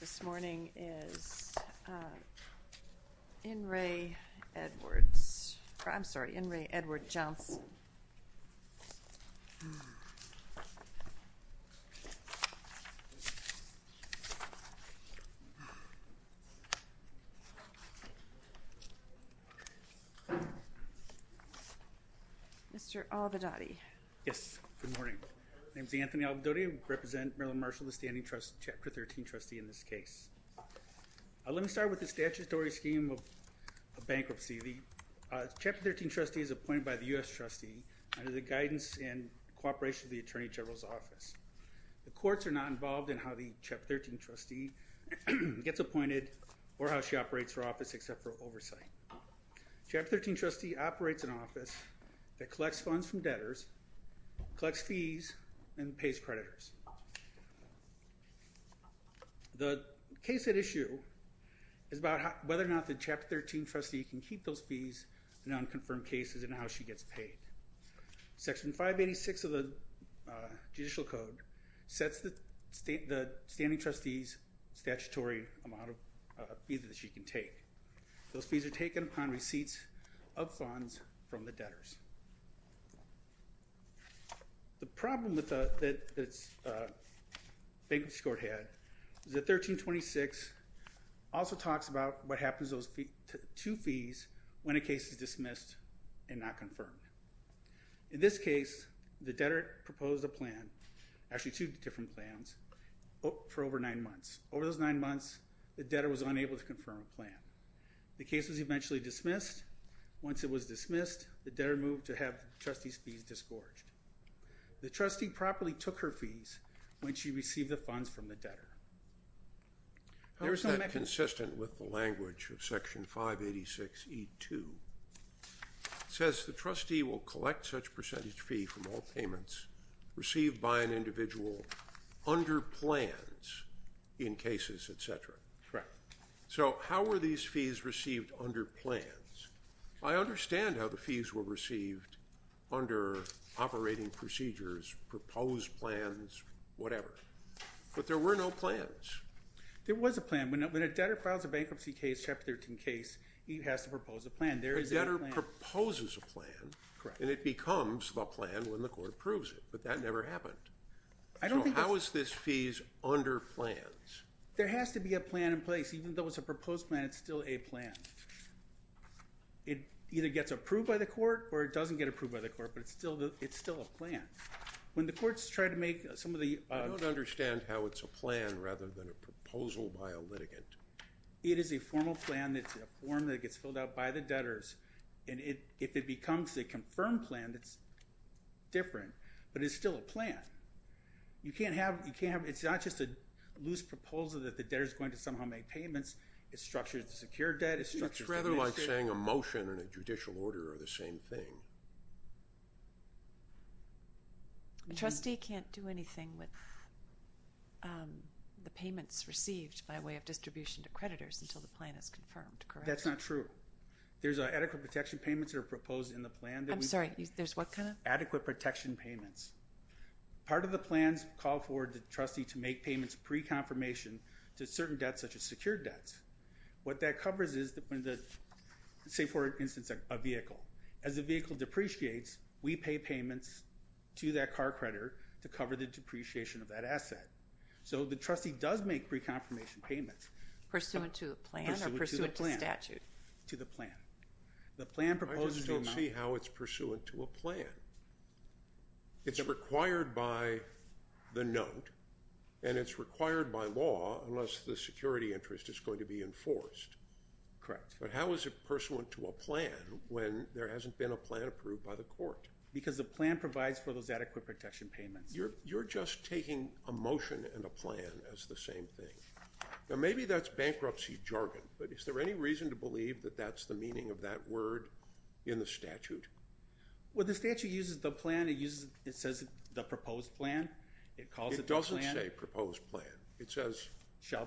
this morning is in Ray Edwards I'm sorry in Ray Edward Johnson mr. all the daddy yes good morning name's Anthony I'll go to you represent Marilyn Marshall the standing trust chapter 13 trustee in this case let me start with the statutory scheme of bankruptcy the chapter 13 trustee is appointed by the US trustee under the guidance and cooperation of the Attorney General's office the courts are not involved in how the chapter 13 trustee gets appointed or how she operates her office except for oversight chapter 13 trustee operates an office that collects funds from debtors collects fees and the case at issue is about whether or not the chapter 13 trustee can keep those fees in unconfirmed cases and how she gets paid section 586 of the judicial code sets the state the standing trustees statutory amount of either that she can take those fees are taken upon receipts of funds from the bankruptcy court had the 1326 also talks about what happens those two fees when a case is dismissed and not confirmed in this case the debtor proposed a plan actually two different plans but for over nine months over those nine months the debtor was unable to confirm a plan the case was eventually dismissed once it was dismissed the debtor moved to have trustees fees the trustee properly took her fees when she received the funds from the debtor there's no consistent with the language of section 586 e2 says the trustee will collect such percentage fee from all payments received by an individual under plans in cases etc so how are these fees received under plans I understand how fees were received under operating procedures proposed plans whatever but there were no plans there was a plan when a debtor files a bankruptcy case chapter 13 case he has to propose a plan there is never proposes a plan and it becomes the plan when the court approves it but that never happened I don't think I was this fees under plans there has to be a plan in place even though it's a by the court or it doesn't get approved by the court but it's still the it's still a plan when the courts try to make some of the I don't understand how it's a plan rather than a proposal by a litigant it is a formal plan that's a form that gets filled out by the debtors and it if it becomes a confirmed plan that's different but it's still a plan you can't have you can't have it's not just a loose proposal that the debtors going to somehow make payments it's structured to secure debt it's rather like saying a motion and a judicial order are the same thing the trustee can't do anything with the payments received by way of distribution to creditors until the plan is confirmed that's not true there's an adequate protection payments are proposed in the plan I'm sorry there's what kind of adequate protection payments part of the plans called for the trustee to make payments pre-confirmation to certain debts such as secured debts what that covers is that when the say for instance a vehicle as a vehicle depreciates we pay payments to that car creditor to cover the depreciation of that asset so the trustee does make pre-confirmation payments pursuant to the plan or pursuant to statute to the plan the plan proposes to see how it's pursuant to a plan it's required by the note and it's required by law unless the security interest is going to be enforced correct but how is it pursuant to a plan when there hasn't been a plan approved by the court because the plan provides for those adequate protection payments you're you're just taking a motion and a plan as the same thing now maybe that's bankruptcy jargon but is there any reason to believe that that's the meaning of that word in the statute well the statute uses the plan it uses it says the proposed plan it calls it doesn't say proposed plan it says shall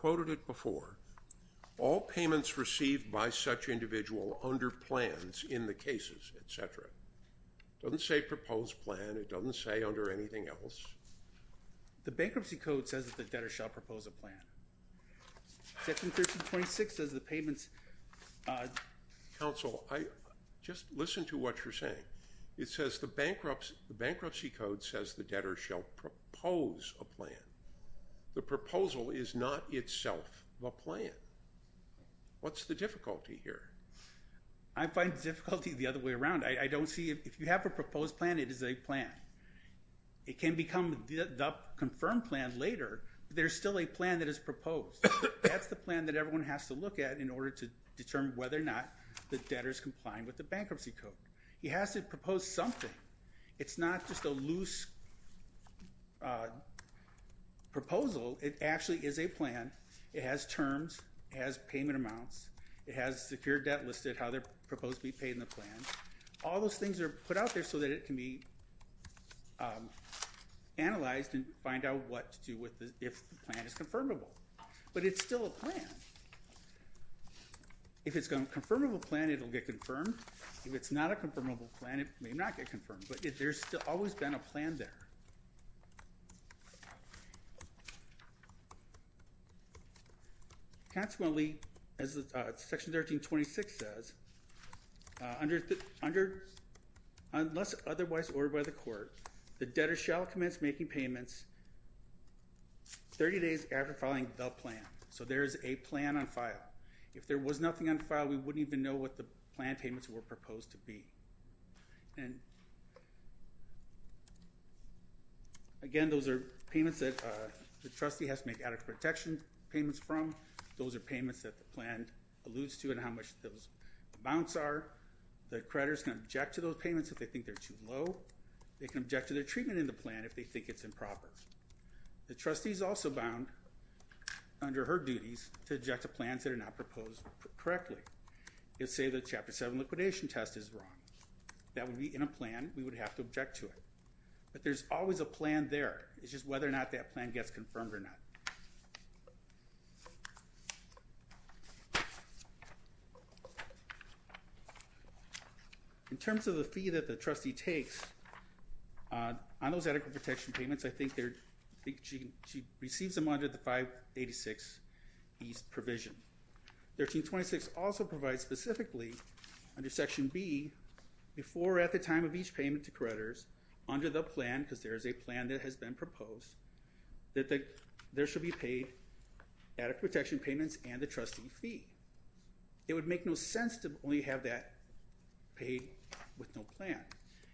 quoted it before all payments received by such individual under plans in the cases etc doesn't say proposed plan it doesn't say under anything else the bankruptcy code says that the debtor shall propose a plan 26 as the payments counsel I just listen to what you're saying it says the bankruptcy bankruptcy code says the debtor shall propose a plan the proposal is not itself the plan what's the difficulty here I find difficulty the other way around I don't see if you have a proposed plan it is a plan it can become the confirmed plan later there's still a plan that is proposed that's the plan that everyone has to look at in order to determine whether or not the debtors complying with the bankruptcy code he has to propose something it's not just a loose proposal it actually is a plan it has terms as payment amounts it has secure debt listed how they're proposed to be paid in the plan all those things are put out there so that it can be analyzed and find out what to do with this if the plan is confirmable but it's still a plan if it's gonna confirm of a plan it'll get confirmed if it's not a confirmable plan it may not get confirmed but if there's still always been a plan there consequently as the section 1326 says under under unless otherwise or by the court the debtor shall commence making payments 30 days after filing the plan so there's a plan on file if there was nothing on file we wouldn't even know what the plan payments were proposed to be and again those are payments that the trustee has to make out of protection payments from those are payments that the plan alludes to and how much those bounce are the creditors can object to those payments if they think they're too low they can object to their treatment in the plan if they think it's in profits the trustees also bound under her duties to eject the plans that are not proposed correctly it the chapter 7 liquidation test is wrong that would be in a plan we would have to object to it but there's always a plan there it's just whether or not that plan gets confirmed or not in terms of the fee that the trustee takes on those adequate protection payments I think they're she she receives them under the 586 East provision 1326 also provides specifically under Section B before at the time of each payment to creditors under the plan because there is a plan that has been proposed that there should be paid adequate protection payments and the trustee fee it would make no sense to only have that pay with no plan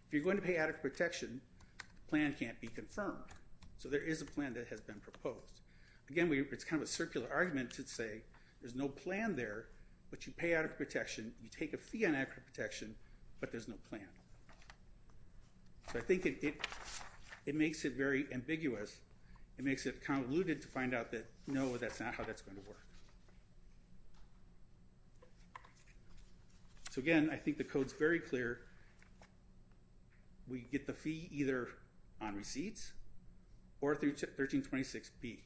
if you're going to pay out of protection plan can't be confirmed so there is a post again we it's kind of a circular argument to say there's no plan there but you pay out of protection you take a fee on accurate protection but there's no plan so I think it it makes it very ambiguous it makes it convoluted to find out that no that's not how that's going to work so again I think the codes very clear we get the fee either on receipts or through 1326 be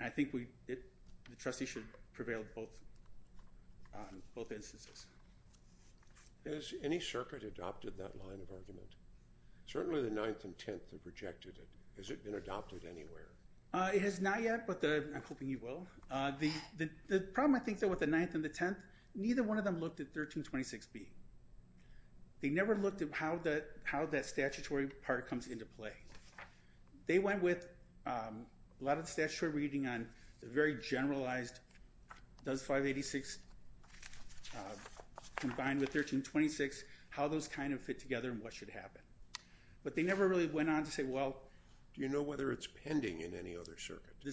I think we did the trustee should prevail both both instances there's any circuit adopted that line of argument certainly the 9th and 10th have rejected it has it been adopted anywhere it has not yet but the I'm hoping you will the the problem I think that with the 9th and the 10th neither one of them looked at 1326 be they never looked at how that how that statutory part comes into play they went with a lot of statutory reading on the very generalized does 586 combined with 1326 how those kind of fit together and what should happen but they never really went on to say well do you know whether it's pending in any other circuit the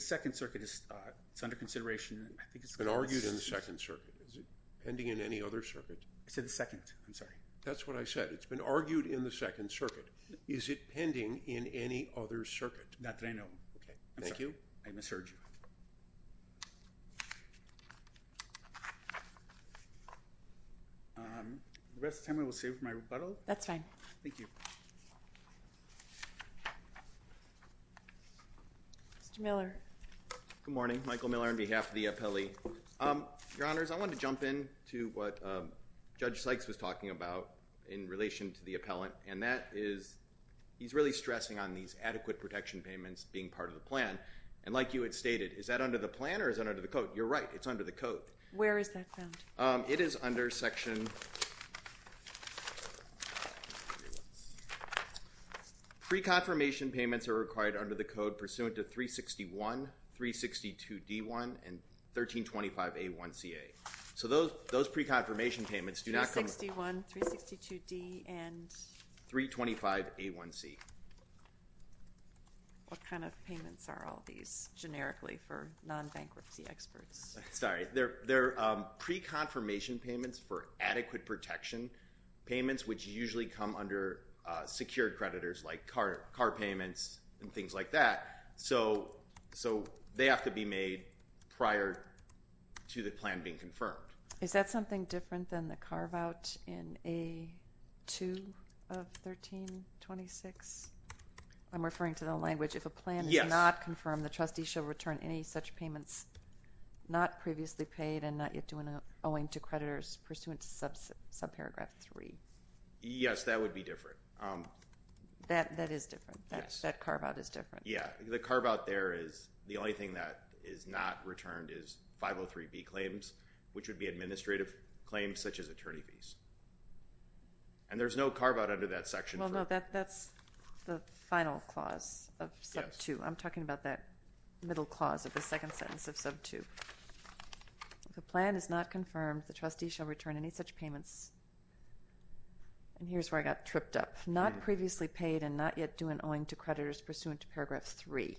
argued in the Second Circuit pending in any other circuit I said the second I'm sorry that's what I said it's been argued in the Second Circuit is it pending in any other circuit not that I know okay thank you I'm a surgeon the rest of time I will save my rebuttal that's fine thank you mr. Miller good morning Michael Miller on behalf of the appellee your honors I want to jump in to what judge Sykes was talking about in relation to the appellant and that is he's really stressing on these adequate protection payments being part of the plan and like you had stated is that under the plan or is that under the code you're right it's under the code where is that found it is under section pre-confirmation payments are required under the code pursuant to 361 362 d1 and 1325 a1 CA so those those pre-confirmation payments do not come to 161 362 D and 325 a1 C what kind of payments are all these generically for non-bankruptcy experts sorry they're they're pre-confirmation payments for adequate protection payments which usually come under secured creditors like car car payments and things like that so so they have to be made prior to the plan being confirmed is that something different than the carve-out in a 2 of 1326 I'm referring to the language if a plan is not confirmed the any such payments not previously paid and not yet doing a owing to creditors pursuant to sub sub paragraph 3 yes that would be different that that is different that's that carve-out is different yeah the carve-out there is the only thing that is not returned is 503 B claims which would be administrative claims such as attorney fees and there's no carve-out under that section well no that that's the final clause of sub 2 I'm talking about that middle clause of the second sentence of sub 2 the plan is not confirmed the trustee shall return any such payments and here's where I got tripped up not previously paid and not yet doing owing to creditors pursuant to paragraph 3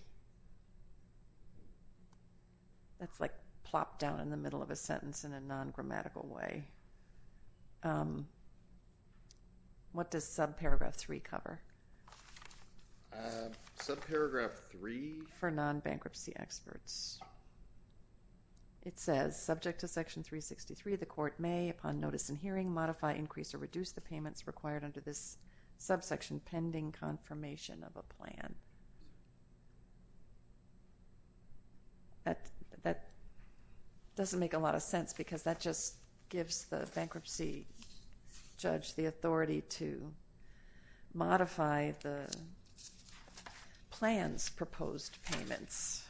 that's like plop down in the middle of a sentence in a non-grammatical way what does subparagraph 3 cover subparagraph 3 for non-bankruptcy experts it says subject to section 363 the court may upon notice in hearing modify increase or reduce the payments required under this subsection pending confirmation of a plan that that doesn't make a lot of sense because that just gives the modify the plans proposed payments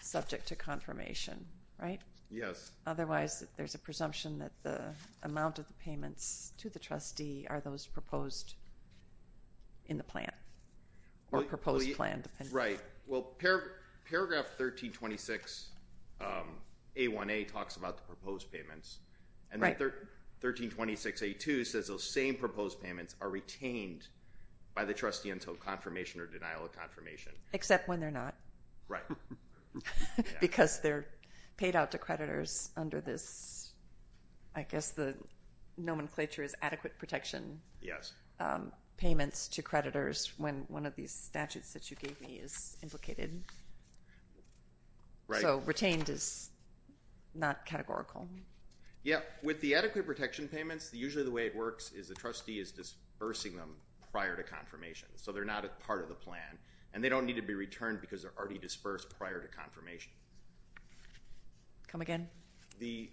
subject to confirmation right yes otherwise there's a presumption that the amount of the payments to the trustee are those proposed in the plan or proposed plan right well paragraph 1326 a1a talks about the proposed payments and right there 1326 a2 says those same proposed payments are retained by the trustee until confirmation or denial of confirmation except when they're not right because they're paid out to creditors under this I guess the nomenclature is adequate protection yes payments to creditors when one of these statutes that you gave me is implicated right so retained is not categorical yeah with the adequate protection payments usually the way it works is the trustee is dispersing them prior to confirmation so they're not a part of the plan and they don't need to be returned because they're already dispersed prior to confirmation come again the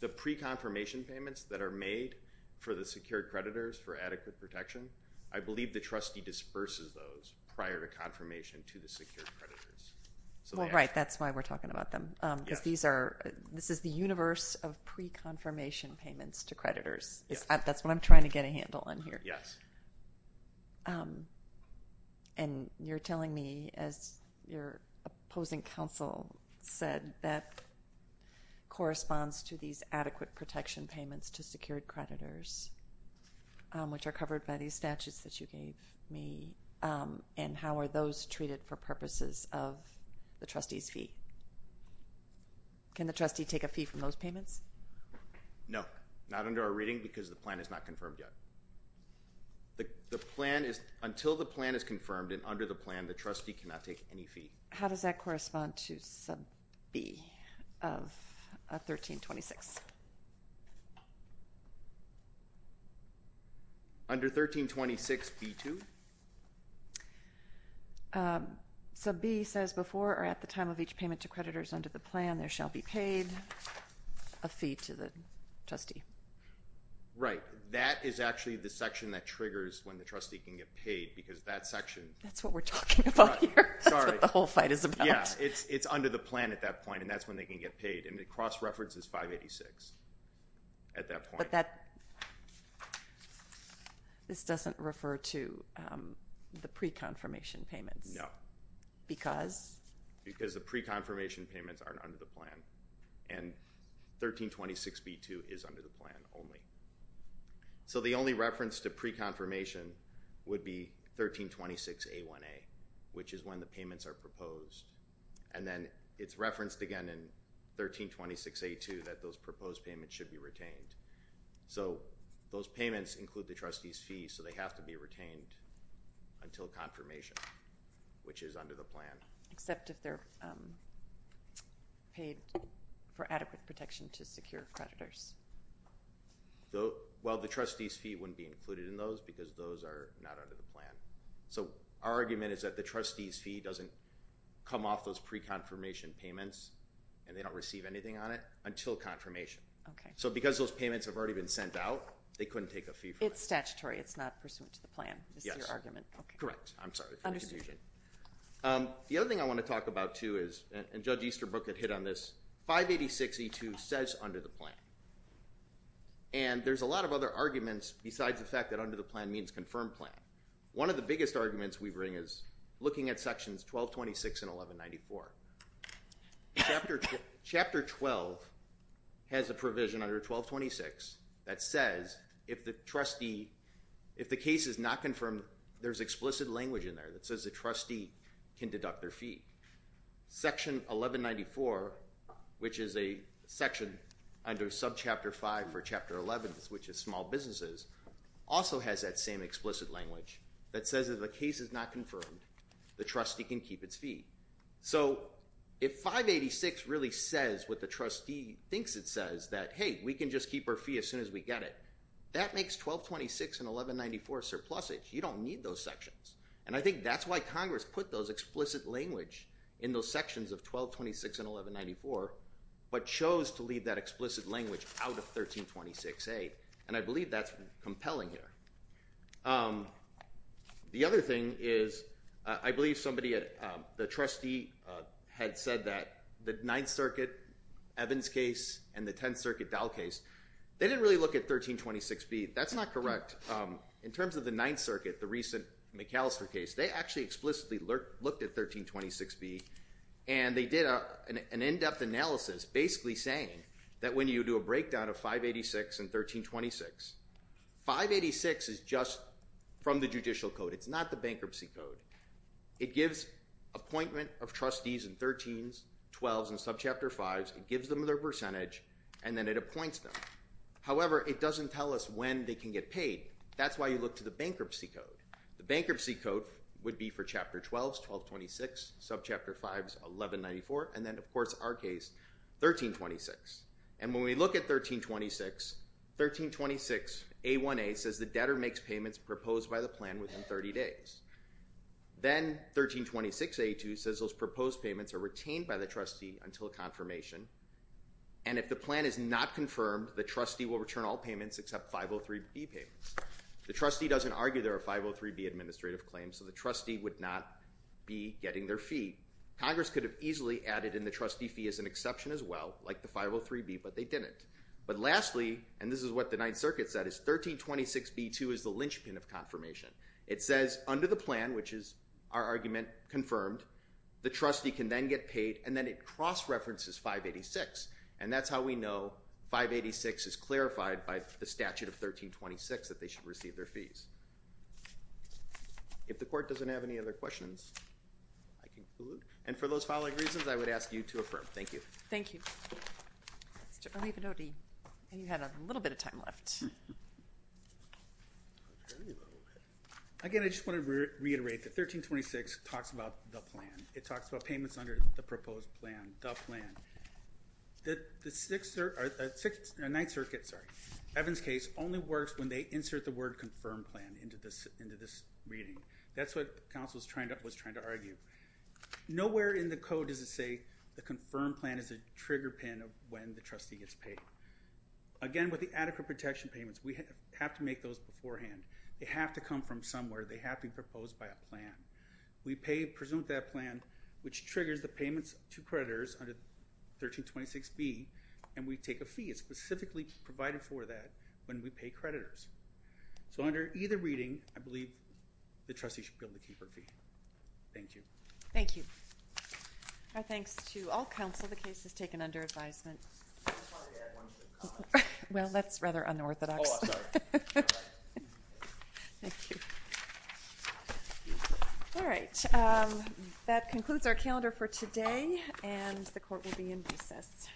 the pre-confirmation payments that are made for the secured creditors for adequate protection I believe the trustee disperses those prior to confirmation to the secured creditors so right that's why we're talking about them because these are this is the universe of pre-confirmation payments to creditors that's what I'm trying to get a handle on here yes and you're telling me as your opposing counsel said that corresponds to these adequate protection payments to secured creditors which are covered by these statutes that you gave me and how are those treated for purposes of the trustees fee can the trustee take a fee from those payments no not under our reading because the plan is not confirmed yet the plan is until the plan is confirmed and under the plan the trustee cannot take any fee how does that correspond to sub B of 13 26 b2 sub B says before or at the time of each payment to creditors under the plan there shall be paid a fee to the trustee right that is actually the section that triggers when the trustee can get paid because that section that's what we're talking about the whole fight is about it's it's under the plan at that point and that's when they can get paid and the cross-reference is 586 at refer to the pre-confirmation payments no because because the pre-confirmation payments aren't under the plan and 1326 b2 is under the plan only so the only reference to pre-confirmation would be 1326 a1a which is when the payments are proposed and then it's referenced again in 1326 a2 that those proposed payments should be retained so those payments include the trustees fees so they have to be retained until confirmation which is under the plan except if they're paid for adequate protection to secure creditors though well the trustees fee wouldn't be included in those because those are not under the plan so our argument is that the trustees fee doesn't come off those pre-confirmation payments and they don't receive anything on it until confirmation okay so because those payments have already been sent out they couldn't take a fee it's statutory it's not pursuant to the plan yes your argument okay correct I'm sorry the other thing I want to talk about too is and judge Easterbrook had hit on this 586 e2 says under the plan and there's a lot of other arguments besides the fact that under the plan means confirmed plan one of the biggest arguments we bring is looking at sections 1226 and 1194 chapter 12 has a provision under 1226 that says if the trustee if the case is not confirmed there's explicit language in there that says the trustee can deduct their fee section 1194 which is a section under sub chapter 5 for chapter 11 which is small businesses also has that same explicit language that says if the case is not confirmed the trustee can keep its feet so if 586 really says what the trustee thinks it says that hey we can just keep our fee as soon as we get it that makes 1226 and 1194 surplus it you don't need those sections and I think that's why Congress put those explicit language in those sections of 1226 and I believe that's compelling here the other thing is I believe somebody at the trustee had said that the 9th Circuit Evans case and the 10th Circuit doll case they didn't really look at 1326 be that's not correct in terms of the 9th Circuit the recent McAllister case they actually explicitly looked at 1326 be and they did an in-depth analysis basically saying that when you do a 586 is just from the judicial code it's not the bankruptcy code it gives appointment of trustees and 13 12 and sub chapter 5 it gives them their percentage and then it appoints them however it doesn't tell us when they can get paid that's why you look to the bankruptcy code the bankruptcy code would be for chapter 12 1226 sub chapter 5 1194 and then of course our case 1326 and when we look at 1326 1326 a1a says the debtor makes payments proposed by the plan within 30 days then 1326 a2 says those proposed payments are retained by the trustee until confirmation and if the plan is not confirmed the trustee will return all payments except 503 be paid the trustee doesn't argue there are 503 be administrative claims so the trustee would not be getting their fee Congress could have easily added in the trustee is an exception as well like the 503 be but they didn't but lastly and this is what the Ninth Circuit said is 1326 b2 is the linchpin of confirmation it says under the plan which is our argument confirmed the trustee can then get paid and then it cross-references 586 and that's how we know 586 is clarified by the statute of 1326 that they should receive their fees if the court doesn't have any other questions and for those following reasons I would ask you to thank you thank you and you had a little bit of time left again I just want to reiterate that 1326 talks about the plan it talks about payments under the proposed plan the plan that the six or six night circuits are Evans case only works when they insert the word confirmed plan into this into this reading that's what counsels trying to was trying to argue nowhere in the code does it say the confirmed plan is a trigger pin of when the trustee gets paid again with the adequate protection payments we have to make those beforehand they have to come from somewhere they have been proposed by a plan we pay presumed that plan which triggers the payments to creditors under 1326 B and we take a fee it's specifically provided for that when we pay creditors so under either reading I believe the trustee should be able to thank you thank you our thanks to all counsel the case is taken under advisement well that's rather unorthodox all right that concludes our calendar for today and the court will be in recess